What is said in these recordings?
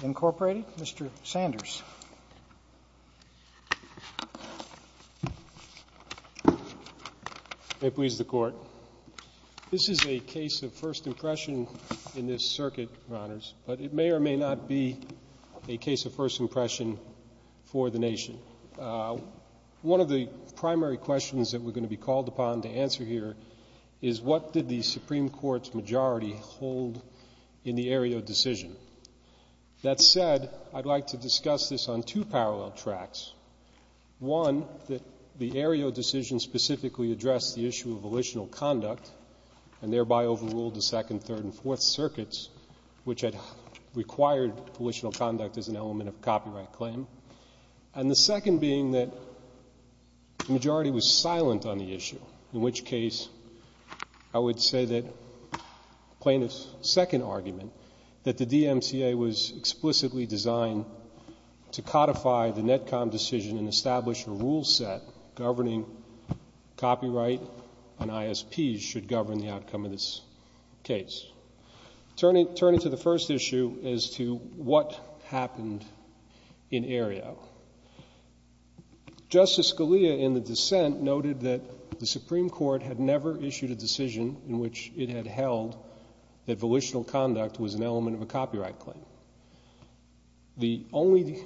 Mr. Sanders. May it please the Court. This is a case of first impression in this circuit, Your Honors, but it may or may not be a case of first impression for the nation. One of the primary questions that we're going to be called upon to answer here is what did the Supreme Court's majority hold in the Aereo decision? That said, I'd like to discuss this on two parallel tracks. One, that the Aereo decision specifically addressed the issue of volitional conduct and thereby overruled the Second, Third, and Fourth Circuits, which had required volitional conduct as an element of copyright claim. And the second being that the majority was silent on the issue, in which case I would say that plaintiff's second argument, that the DMCA was explicitly designed to codify the NETCOM decision and establish a rule set governing copyright and ISPs should govern the outcome of this case. Turning to the first issue as to what happened in Aereo, Justice Scalia in the dissent noted that the Supreme Court had never issued a decision in which it had held that volitional conduct was an element of a copyright claim. The only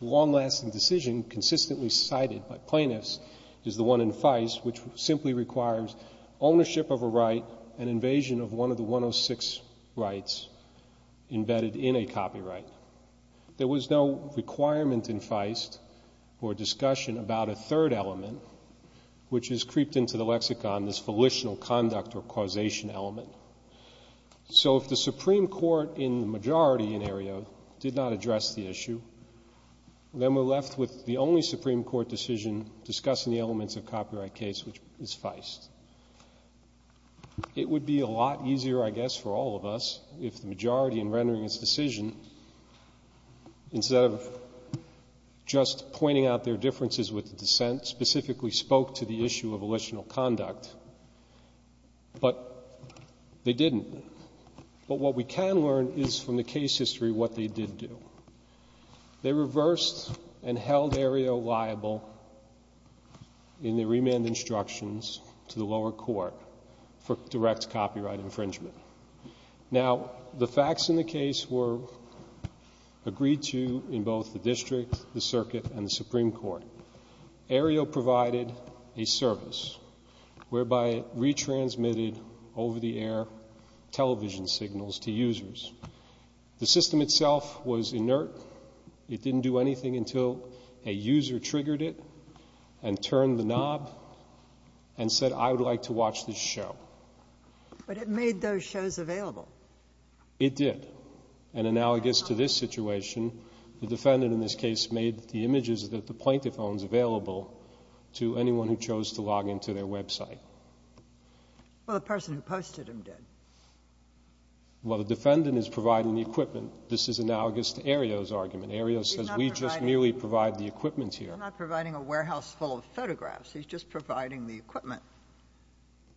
long-lasting decision consistently cited by plaintiffs is the one in Feist, which simply requires ownership of a right and invasion of one of the 106 rights embedded in a copyright. There was no requirement in Feist for discussion about a third element, which has creeped into the lexicon as volitional conduct or causation element. So if the Supreme Court in the majority in Aereo did not address the issue, then we're left with the only Supreme Court decision discussing the elements of a copyright case, which is Feist. It would be a lot easier, I guess, for all of us if the majority in rendering its decision, instead of just pointing out their differences with the dissent, specifically spoke to the issue of volitional conduct. But they didn't. But what we can learn is from the case history what they did do. They reversed and held Aereo liable in the remand instructions to the lower court for direct copyright infringement. Now, the facts in the case were agreed to in both the district, the circuit, and the Supreme Court. Aereo provided a service whereby it retransmitted over-the-air television signals to users. The system itself was inert. It didn't do anything until a user triggered it and turned the knob and said, I would like to watch this show. But it made those shows available. It did. And analogous to this situation, the defendant in this case made the images that the plaintiff owns available to anyone who chose to log into their website. Well, the person who posted them did. Well, the defendant is providing the equipment. This is analogous to Aereo's argument. Aereo says, we just merely provide the equipment here. They're not providing a warehouse full of photographs. He's just providing the equipment.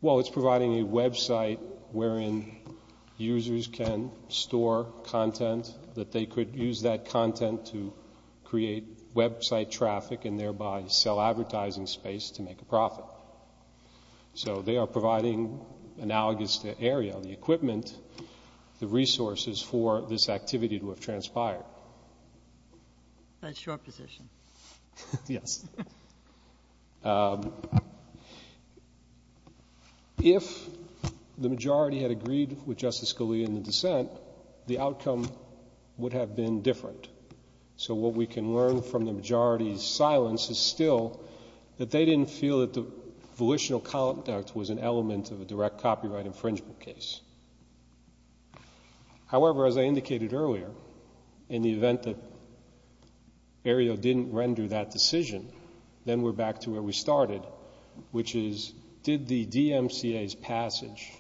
Well, it's providing a website wherein users can store content that they could use that content to create website traffic and thereby sell advertising space to make a profit. So they are providing, analogous to Aereo, the equipment, the resources for this activity to have transpired. That's your position. Yes. If the majority had agreed with Justice Scalia in the dissent, the outcome would have been different. So what we can learn from the majority's silence is still that they didn't feel that the volitional conduct was an element of a direct copyright infringement case. However, as I indicated earlier, in the event that Aereo didn't render that decision, then we're back to where we started, which is, did the DMCA's passage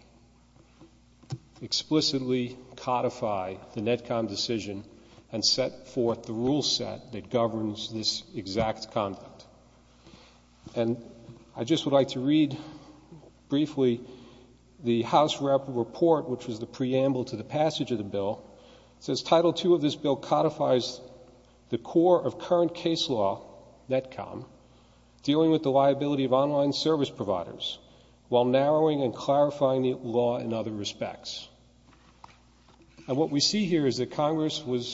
explicitly codify the Netcom decision and set forth the rule set that governs this exact conduct? And I just would like to read briefly the House Rapid Report, which was the preamble to the passage of the bill. It says, Title II of this bill codifies the core of current case law, Netcom, dealing with the liability of online service providers while narrowing and clarifying the law in other respects. And what we see here is that Congress was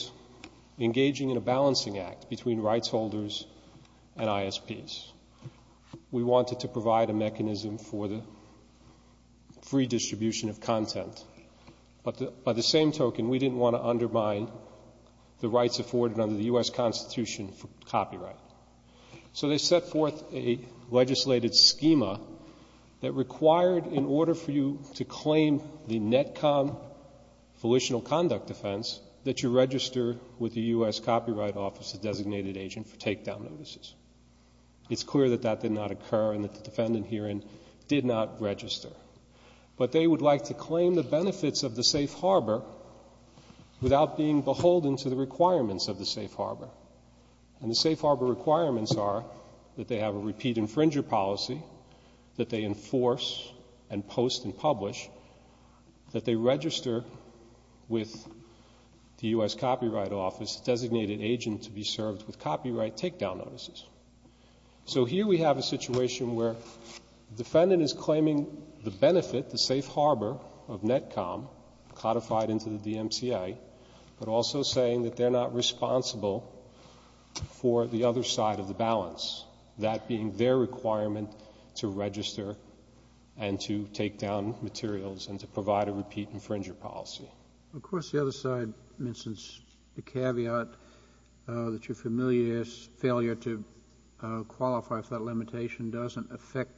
trying to provide a mechanism for the free distribution of content. But by the same token, we didn't want to undermine the rights afforded under the U.S. Constitution for copyright. So they set forth a legislated schema that required, in order for you to claim the Netcom volitional conduct offense, that you register with the U.S. Copyright Office, the designated agent for takedown notices. It's clear that that did not occur and that the defendant herein did not register. But they would like to claim the benefits of the safe harbor without being beholden to the requirements of the safe harbor. And the safe harbor requirements are that they have a repeat infringer policy, that they enforce and post and publish, that they register with the U.S. Copyright Office, the designated agent to be served with copyright takedown notices. So here we have a situation where the defendant is claiming the benefit, the safe harbor of Netcom, codified into the DMCA, but also saying that they're not responsible for the other side of the balance, that being their requirement to register and to takedown materials and to provide a repeat infringer policy. Of course, the other side mentions the caveat that you're familiar as failure to qualify if that limitation doesn't affect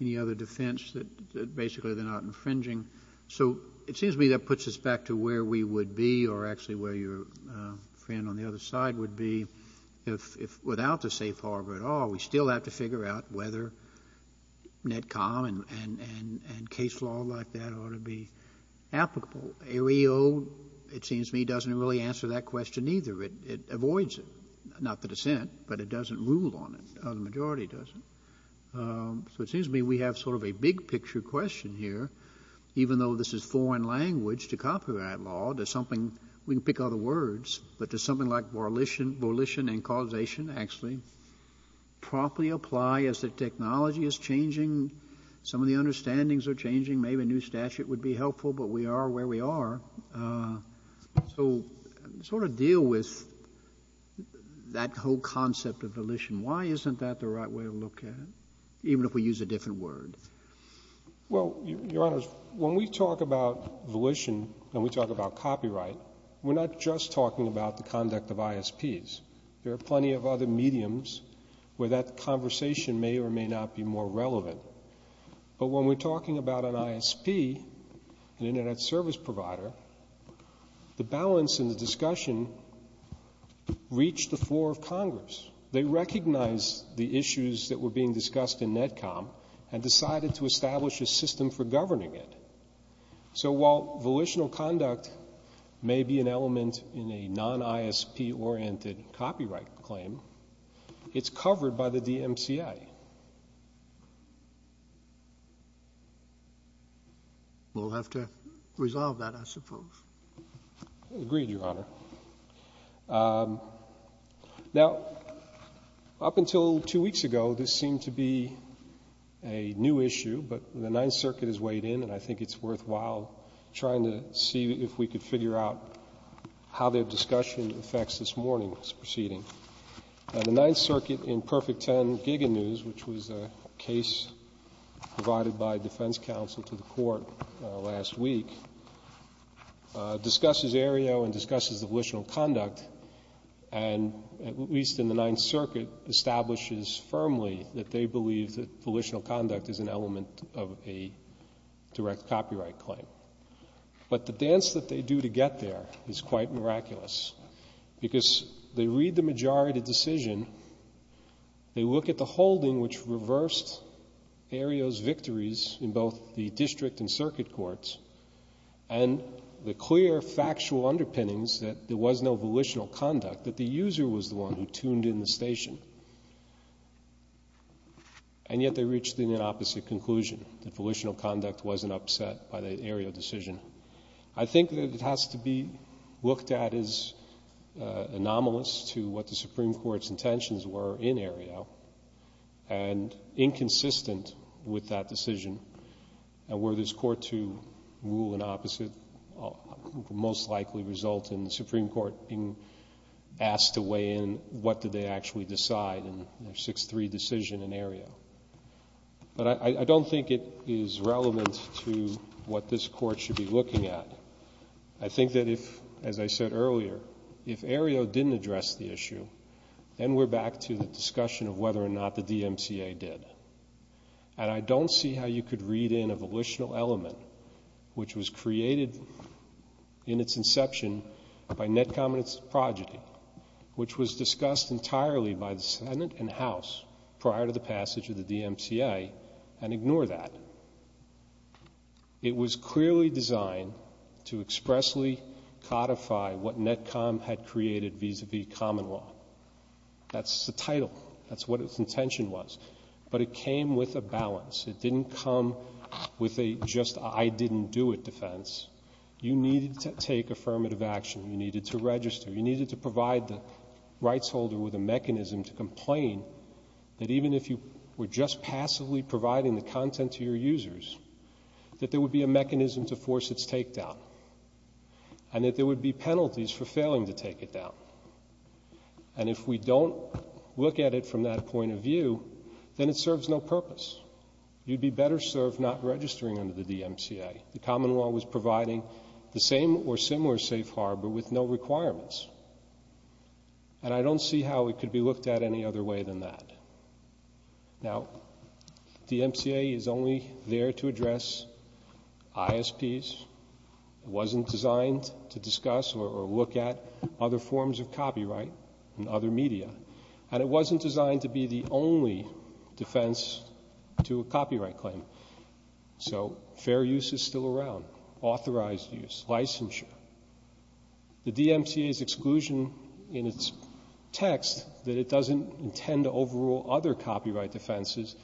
any other defense, that basically they're not infringing. So it seems to me that puts us back to where we would be or actually where your friend on the other side would be. If without the safe harbor at all, we still have to figure out whether Netcom and case law like that ought to be applicable. Areas where the AO, it seems to me, doesn't really answer that question either. It avoids it, not the dissent, but it doesn't rule on it. The majority doesn't. So it seems to me we have sort of a big picture question here. Even though this is foreign language to copyright law, there's something, we can pick other words, but there's something like volition and causation actually properly apply as the technology is changing, some of the understandings are changing, maybe a new statute would be helpful, but we are where we are. So sort of deal with that whole concept of volition. Why isn't that the right way to look at it, even if we use a different word? Well, Your Honors, when we talk about volition and we talk about copyright, we're not just talking about the conduct of ISPs. There are plenty of other mediums where that conversation may or may not be more relevant. But when we're talking about an ISP, an Internet Service Provider, the balance in the discussion reached the floor of Congress. They recognized the issues that were being discussed in Netcom and decided to establish a system for governing it. So while volitional conduct may be an element in a non-ISP oriented copyright claim, it's covered by the DMCA. We'll have to resolve that, I suppose. Agreed, Your Honor. Now, up until two weeks ago, this seemed to be a new issue, but the Ninth Circuit has weighed in and I think it's worthwhile trying to see if we could figure out how their discussion affects this morning's proceeding. The Ninth Circuit in Perfect Ten Giga News, which was a case provided by defense counsel to the Court last week, discusses Aereo and discusses the volitional conduct and, at least in the Ninth Circuit, establishes firmly that they believe that volitional conduct is an element of a direct copyright claim. But the dance that they do to get there is quite miraculous, because they read the majority decision, they look at the holding which reversed Aereo's victories in both the District and Circuit Courts, and the clear factual underpinnings that there was no volitional conduct, that the user was the one who tuned in the station. And yet, they reached an inopposite conclusion, that volitional conduct wasn't upset by the Aereo decision. I think that it has to be looked at as anomalous to what the Supreme Court's intentions were in Aereo, and inconsistent with that decision. And were this Court to rule inopposite, it would most likely result in the Supreme Court being asked to weigh in on what did they actually decide in their 6-3 decision in Aereo. But I don't think it is relevant to what this Court should be looking at. I think that if, as I said earlier, if Aereo didn't address the issue, then we're back to the discussion of whether or not the DMCA did. And I don't see how you could read in a volitional element which was created in its inception by Netcom and its progeny, which was discussed entirely by the Senate and House prior to the passage of the DMCA, and ignore that. It was clearly designed to expressly codify what Netcom had created vis-à-vis common law. That's the title. That's what its intention was. But it came with a balance. It didn't come with a just I didn't do it defense. You needed to take affirmative action. You needed to register. You needed to provide the rights holder with a mechanism to complain that even if you were just passively providing the content to your users, that there would be a mechanism to force its take down, and that there would be penalties for failing to take it down. And if we don't look at it from that point of view, then it serves no purpose. You'd be better served not registering under the DMCA. The common law was providing the same or similar safe harbor with no requirements. And I don't see how it could be looked at any other way than that. Now, DMCA is only there to address ISPs. It wasn't designed to discuss or look at other forms of copyright and other media. And it wasn't designed to be the only defense to a copyright claim. So fair use is still around, authorized use, licensure. The DMCA's exclusion in its text that it doesn't intend to overrule other copyright defenses,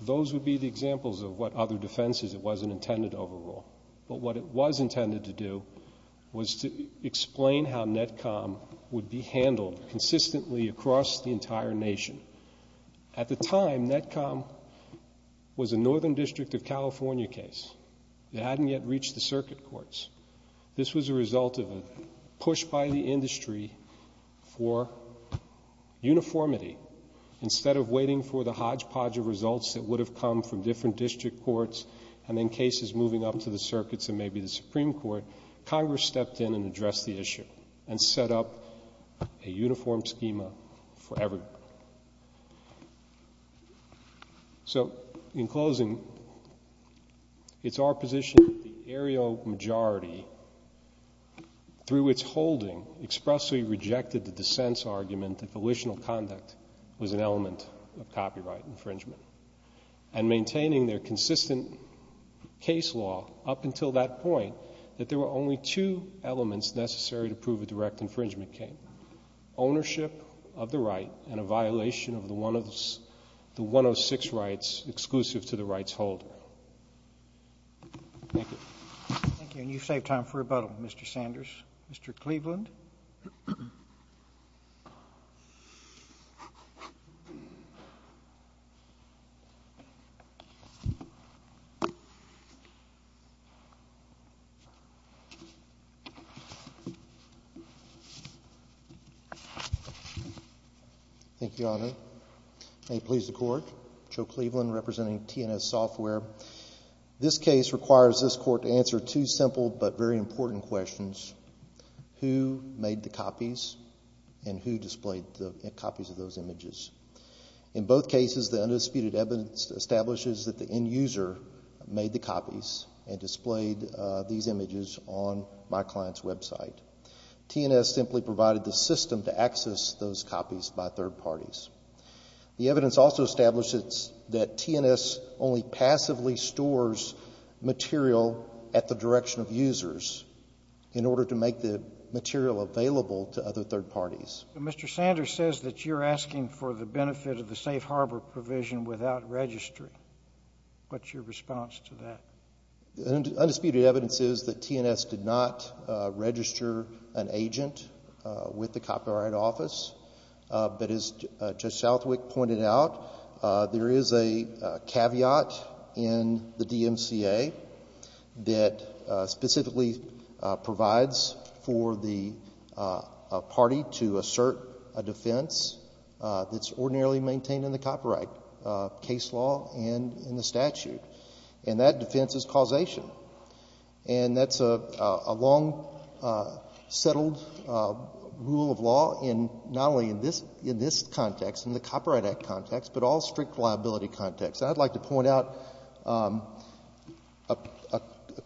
those would be the examples of what other defenses it wasn't intended to overrule. But what it was intended to do was to explain how NETCOM would be handled consistently across the entire nation. At the time, NETCOM was a Northern District of California case. It hadn't yet reached the circuit courts. This was a result of a push by the industry for uniformity. Instead of waiting for the hodgepodge of results that would have come from different district courts and then cases moving up to the circuits and maybe the Supreme Court, Congress stepped in and addressed the issue and set up a uniform schema for everyone. So in closing, it's our position that the aerial majority, through its holding, expressly rejected the dissent's argument that volitional conduct was an element of copyright infringement. And maintaining their consistent case law up until that point, that there were only two elements of copyright infringement, two elements necessary to prove a direct infringement case, ownership of the right and a violation of the 106 rights exclusive to the rights holder. Thank you. Thank you. And you've saved time for rebuttal, Mr. Sanders. Mr. Cleveland. Thank you, Your Honor. May it please the Court. Joe Cleveland representing TNS Software. This case requires this Court to answer two simple but very important questions. Who made the copies and who displayed the copies of those images? In both cases, the undisputed evidence establishes that the end user made the copies and displayed these images on my client's website. TNS simply provided the system to access those copies by third parties. The evidence also establishes that TNS only passively stores material at the direction of users in order to make the material available to other third parties. Mr. Sanders says that you're asking for the benefit of the safe harbor provision without registry. What's your take on that? Well, I don't want to register an agent with the Copyright Office. But as Judge Southwick pointed out, there is a caveat in the DMCA that specifically provides for the party to assert a defense that's ordinarily maintained in the copyright case law and in the statute. And that defense is causation. And that's a long, long, long, long, long settled rule of law in not only in this context, in the Copyright Act context, but all strict liability contexts. I'd like to point out a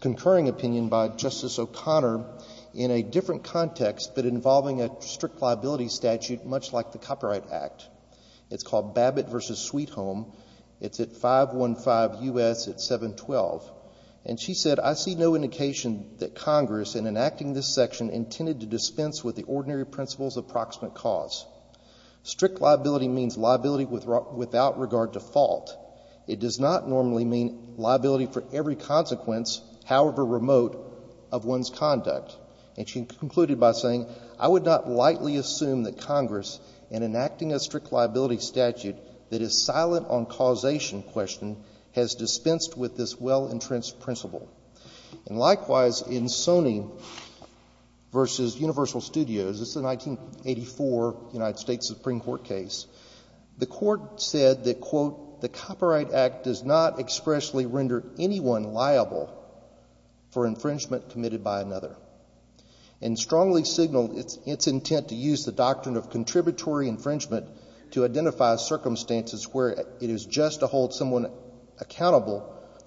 concurring opinion by Justice O'Connor in a different context, but involving a strict liability statute much like the Copyright Act. It's called Babbitt v. Sweet Home. It's at 515 U.S. at 712. And she said, I see no intersection intended to dispense with the ordinary principle's approximate cause. Strict liability means liability without regard to fault. It does not normally mean liability for every consequence, however remote, of one's conduct. And she concluded by saying, I would not lightly assume that Congress, in enacting a strict liability statute that is silent on causation question, has dispensed with this well-entrenched principle. And Babbitt v. Universal Studios, this is a 1984 United States Supreme Court case. The court said that, quote, the Copyright Act does not expressly render anyone liable for infringement committed by another, and strongly signaled its intent to use the doctrine of contributory infringement to identify circumstances where it is just to hold someone accountable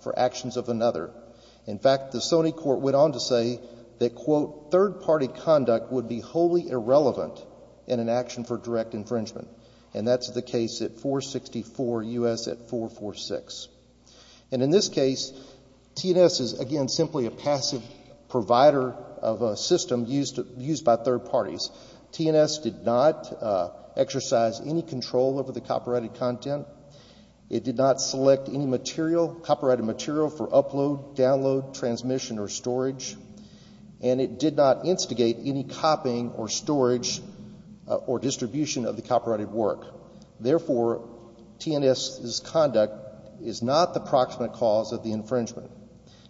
for infringement. Third-party conduct would be wholly irrelevant in an action for direct infringement. And that's the case at 464 U.S. at 446. And in this case, TNS is, again, simply a passive provider of a system used by third parties. TNS did not exercise any control over the copyrighted content. It did not select any material, copyrighted material for upload, download, transmission, or storage. And it did not instigate any copying or storage or distribution of the copyrighted work. Therefore, TNS's conduct is not the proximate cause of the infringement.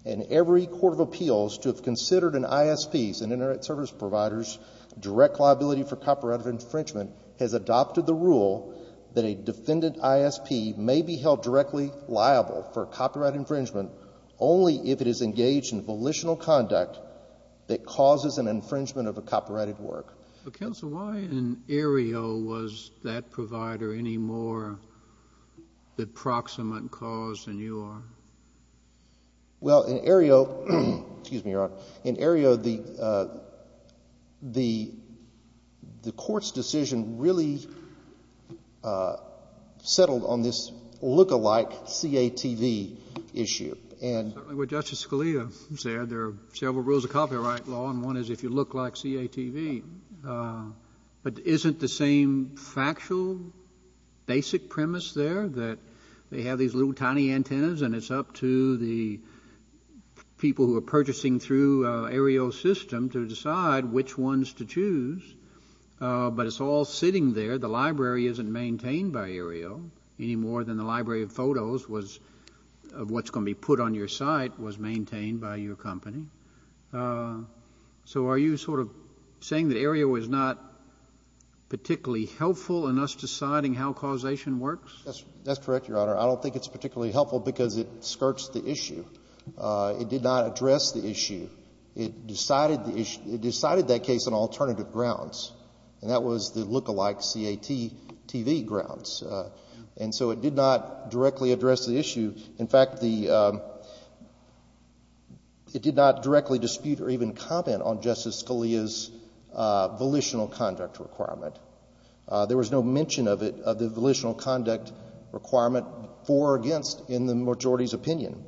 And every court of appeals to have considered an ISP, Internet Service Providers, direct liability for copyright infringement, has adopted the rule that a defendant ISP may be held directly liable for copyright infringement if the defendant is engaged in volitional conduct that causes an infringement of a copyrighted work. But, counsel, why in Aereo was that provider any more the proximate cause than you are? Well, in Aereo — excuse me, Your Honor. In Aereo, the court's decision really settled on this lookalike CATV issue. And — Certainly, what Justice Scalia said, there are several rules of copyright law, and one is if you look like CATV. But isn't the same factual, basic premise there, that they have these little tiny antennas and it's up to the people who are purchasing through Aereo's system to decide which ones to choose? But it's all sitting there. The library isn't maintained by Aereo. Any more than the library of photos was — of what's going to be put on your site was maintained by your company. So are you sort of saying that Aereo is not particularly helpful in us deciding how causation works? That's correct, Your Honor. I don't think it's particularly helpful because it skirts the issue. It did not address the issue. It decided the issue — it decided that case on alternative grounds, and that was the lookalike CATV grounds. And so it did not directly address the issue. In fact, the — it did not directly dispute or even comment on Justice Scalia's volitional conduct requirement. There was no mention of it — of the volitional conduct requirement for or against in the majority's opinion.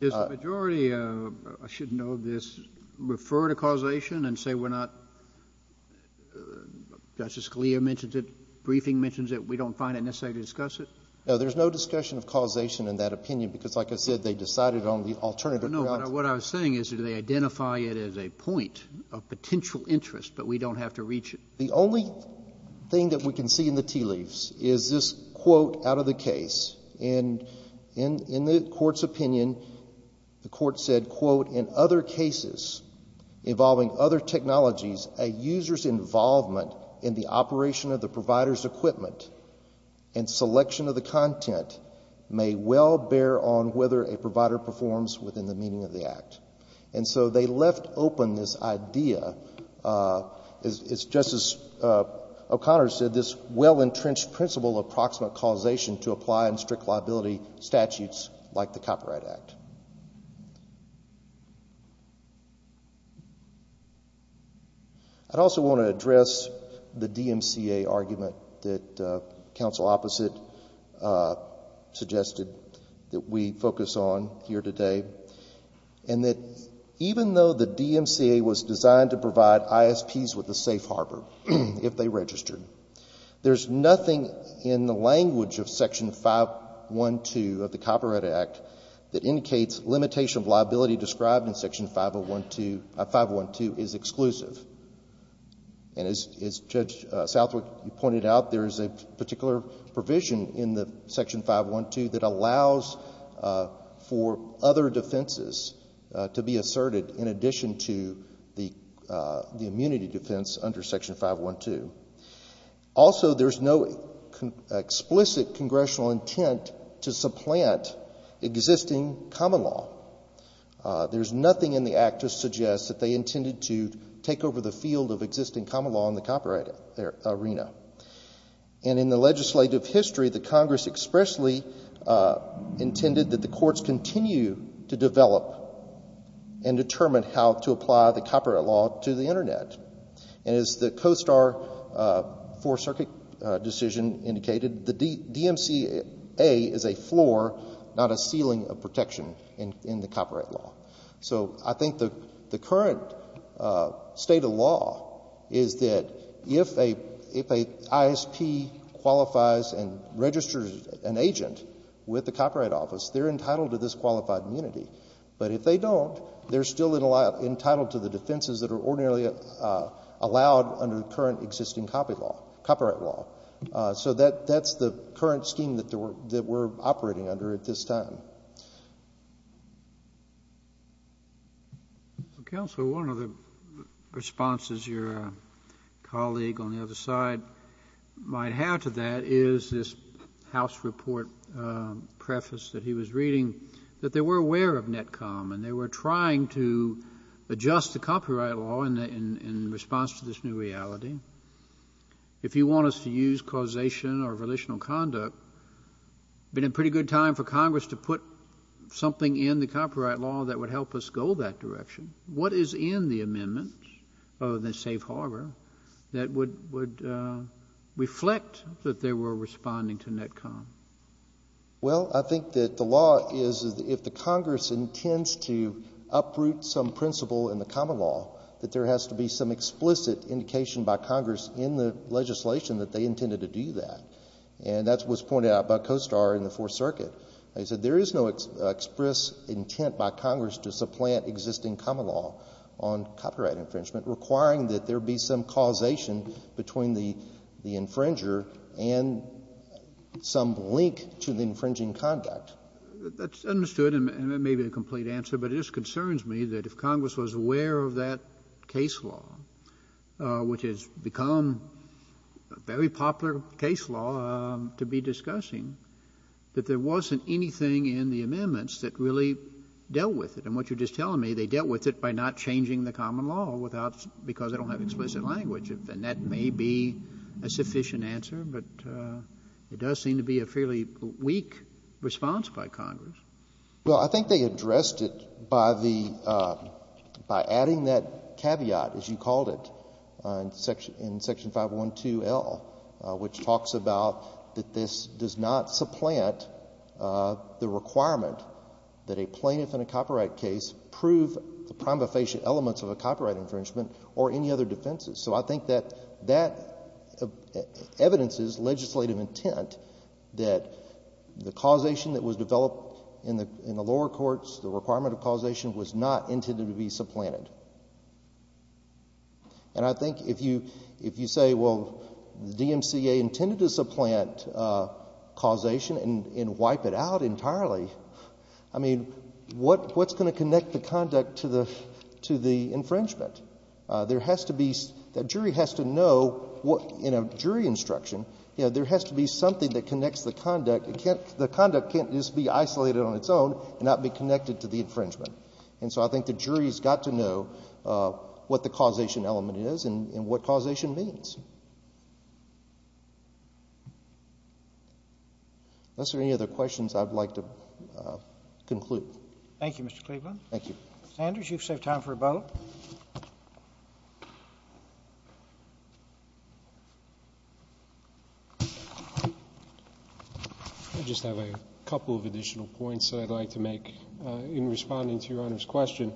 Does the majority — I should know this — refer to causation and say we're not — we're not — Justice Scalia mentions it, briefing mentions it, we don't find it necessary to discuss it? No, there's no discussion of causation in that opinion because, like I said, they decided on the alternative grounds. No, what I was saying is do they identify it as a point of potential interest, but we don't have to reach it? The only thing that we can see in the tea leaves is this quote out of the case. And in the Court's opinion, the Court said, quote, in other cases involving other technologies, a user's involvement in the operation of the provider's equipment and selection of the content may well bear on whether a provider performs within the meaning of the act. And so they left open this idea, as Justice O'Connor said, this well-entrenched principle of proximate causation to apply in strict liability statutes like the Copyright Act. I'd also want to address the DMCA argument that Counsel Opposite suggested that we focus on here today, and that even though the DMCA was designed to provide ISPs with a safe harbor if they registered, there's nothing in the language of Section 512 of the Copyright Act that indicates limitation of liability described in Section 512 is exclusive. And as Judge Southwick pointed out, there is a particular provision in the Section 512 that allows for other defenses to be asserted in addition to the immunity defense under Section 512. Also, there's no explicit congressional intent to supplant existing common law. There's nothing in the act to suggest that they intended to take over the field of existing common law in the copyright arena. And in the legislative history, the Congress expressly intended that the courts continue to develop and determine how to apply the copyright law to the Internet. And as the COSTAR Four Circuit decision indicated, the DMCA is a floor, not a ceiling, of protection in the copyright arena. So I think the current state of law is that if an ISP qualifies and registers an agent with the Copyright Office, they're entitled to this qualified immunity. But if they don't, they're still entitled to the defenses that are ordinarily allowed under the current existing copyright law. So that's the current scheme that we're operating under at this time. So, Counsel, one of the responses your colleague on the other side might have to that is this House report preface that he was reading, that they were aware of NETCOM, and they were trying to adjust the copyright law in response to this new reality. If you want us to use causation or volitional conduct, it would be a pretty good time for Congress to put something in the copyright law that would help us go that direction. What is in the amendment, other than safe harbor, that would reflect that they were responding to NETCOM? Well, I think that the law is that if the Congress intends to uproot some principle in the common law, that there has to be some explicit indication by Congress in the legislation that they intended to do that. And that's what's pointed out by Costar in the Fourth Circuit. He said there is no express intent by Congress to supplant existing common law on copyright infringement, requiring that there be some causation between the infringer and some link to the infringing conduct. That's understood, and it may be a complete answer, but it just concerns me that if Congress was aware of that case law, which has become a very popular case law to be discussing, that there wasn't anything in the amendments that really dealt with it. And what you're just telling me, they dealt with it by not changing the common law without — because they don't have explicit language. And that may be a sufficient answer, but it does seem to be a fairly weak response by Congress. Well, I think they addressed it by the — by adding that caveat, as you called it, in Section 512L, which talks about that this does not supplant the requirement that a plaintiff in a copyright case prove the prima facie elements of a copyright infringement or any other defenses. So I think that that evidences legislative intent that the causation that was developed in the lower courts, the requirement of causation, was not intended to be supplanted. And I think if you say, well, the DMCA intended to supplant causation and wipe it out entirely, I mean, what's going to connect the conduct to the infringement? There has to be — the jury has to know what — in a jury instruction, you know, there has to be something that connects the conduct. It can't — the conduct can't just be isolated on its own and not be connected to the infringement. And so I think the jury has got to know what the causation element is and what causation means. Unless there are any other questions, I would like to conclude. Thank you, Mr. Cleveland. Thank you. Sanders, you've saved time for a vote. I just have a couple of additional points that I'd like to make in responding to Your Honor's question.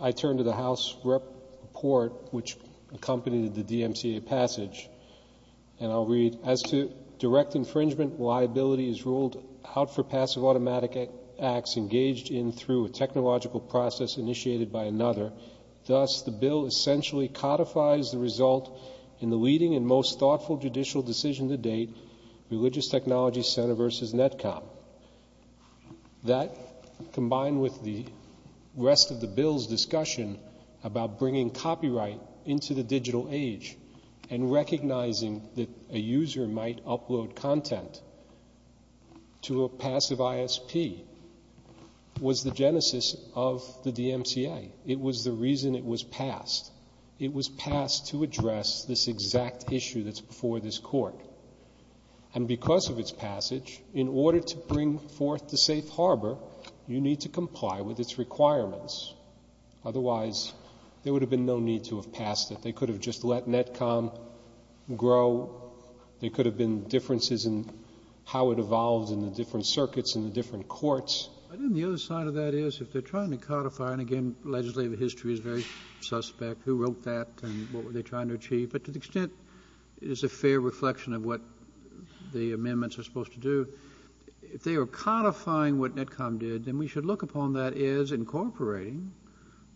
I turn to the House report which accompanied the DMCA passage, and I'll read, as to direct infringement, liability is ruled out for passive automatic acts engaged in through a technological process initiated by another. Thus, the bill essentially codifies the result in the leading and most thoughtful judicial decision to date, Religious Technology Center v. Netcom. That, combined with the rest of the bill's discussion about bringing copyright into the digital age and recognizing that a user might upload content to a passive ISP, was the genesis of the DMCA. It was the reason it was passed. It was the reason it was passed to address this exact issue that's before this Court. And because of its passage, in order to bring forth the safe harbor, you need to comply with its requirements. Otherwise, there would have been no need to have passed it. They could have just let Netcom grow. There could have been differences in how it evolved in the different circuits and the different courts. And then the other side of that is, if they're trying to codify, and again, legislative history is very suspect. Who wrote that and what were they trying to achieve? But to the extent it is a fair reflection of what the amendments are supposed to do, if they are codifying what Netcom did, then we should look upon that as incorporating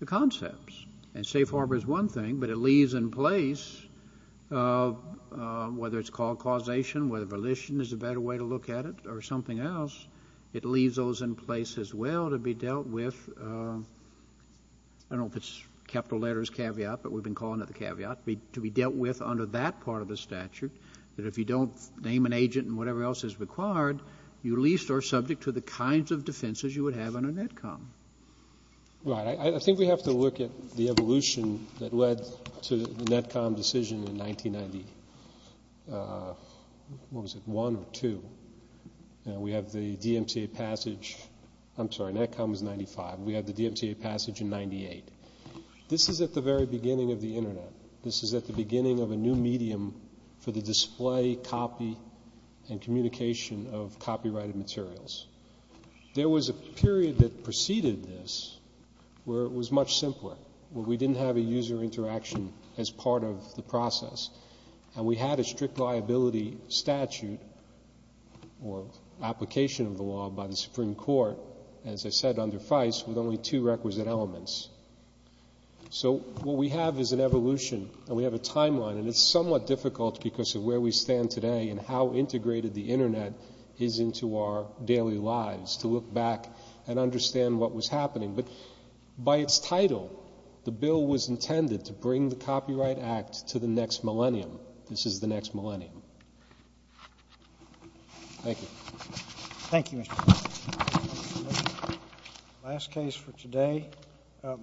the concepts. And safe harbor is one thing, but it leaves in place, whether it's called causation, whether volition is a better way to look at it, or something else, it leaves those in place as well to be dealt with. I don't know if it's capital letters caveat, but we've been calling it the caveat, to be dealt with under that part of the statute, that if you don't name an agent and whatever else is required, you at least are subject to the kinds of defenses you would have under Netcom. Right. I think we have to look at the evolution that led to the Netcom decision in 1990. What was it, one or two? We have the DMCA passage. I'm sorry, Netcom was 95. We had the DMCA passage in 98. This is at the very beginning of the Internet. This is at the beginning of a new medium for the display, copy, and communication of copyrighted materials. There was a period that preceded this where it was much simpler, where we didn't have a user interaction as part of the process, and we had a strict liability statute or application of the law by the Supreme Court, as I said, under FICE, with only two requisite elements. So what we have is an evolution, and we have a timeline, and it's somewhat difficult because of where we stand today and how integrated the Internet is into our daily lives, to look back and understand what was happening. But by its title, the bill was intended to bring the Copyright Act to the next millennium. This is the next millennium. Thank you. Thank you, Mr. Chairman.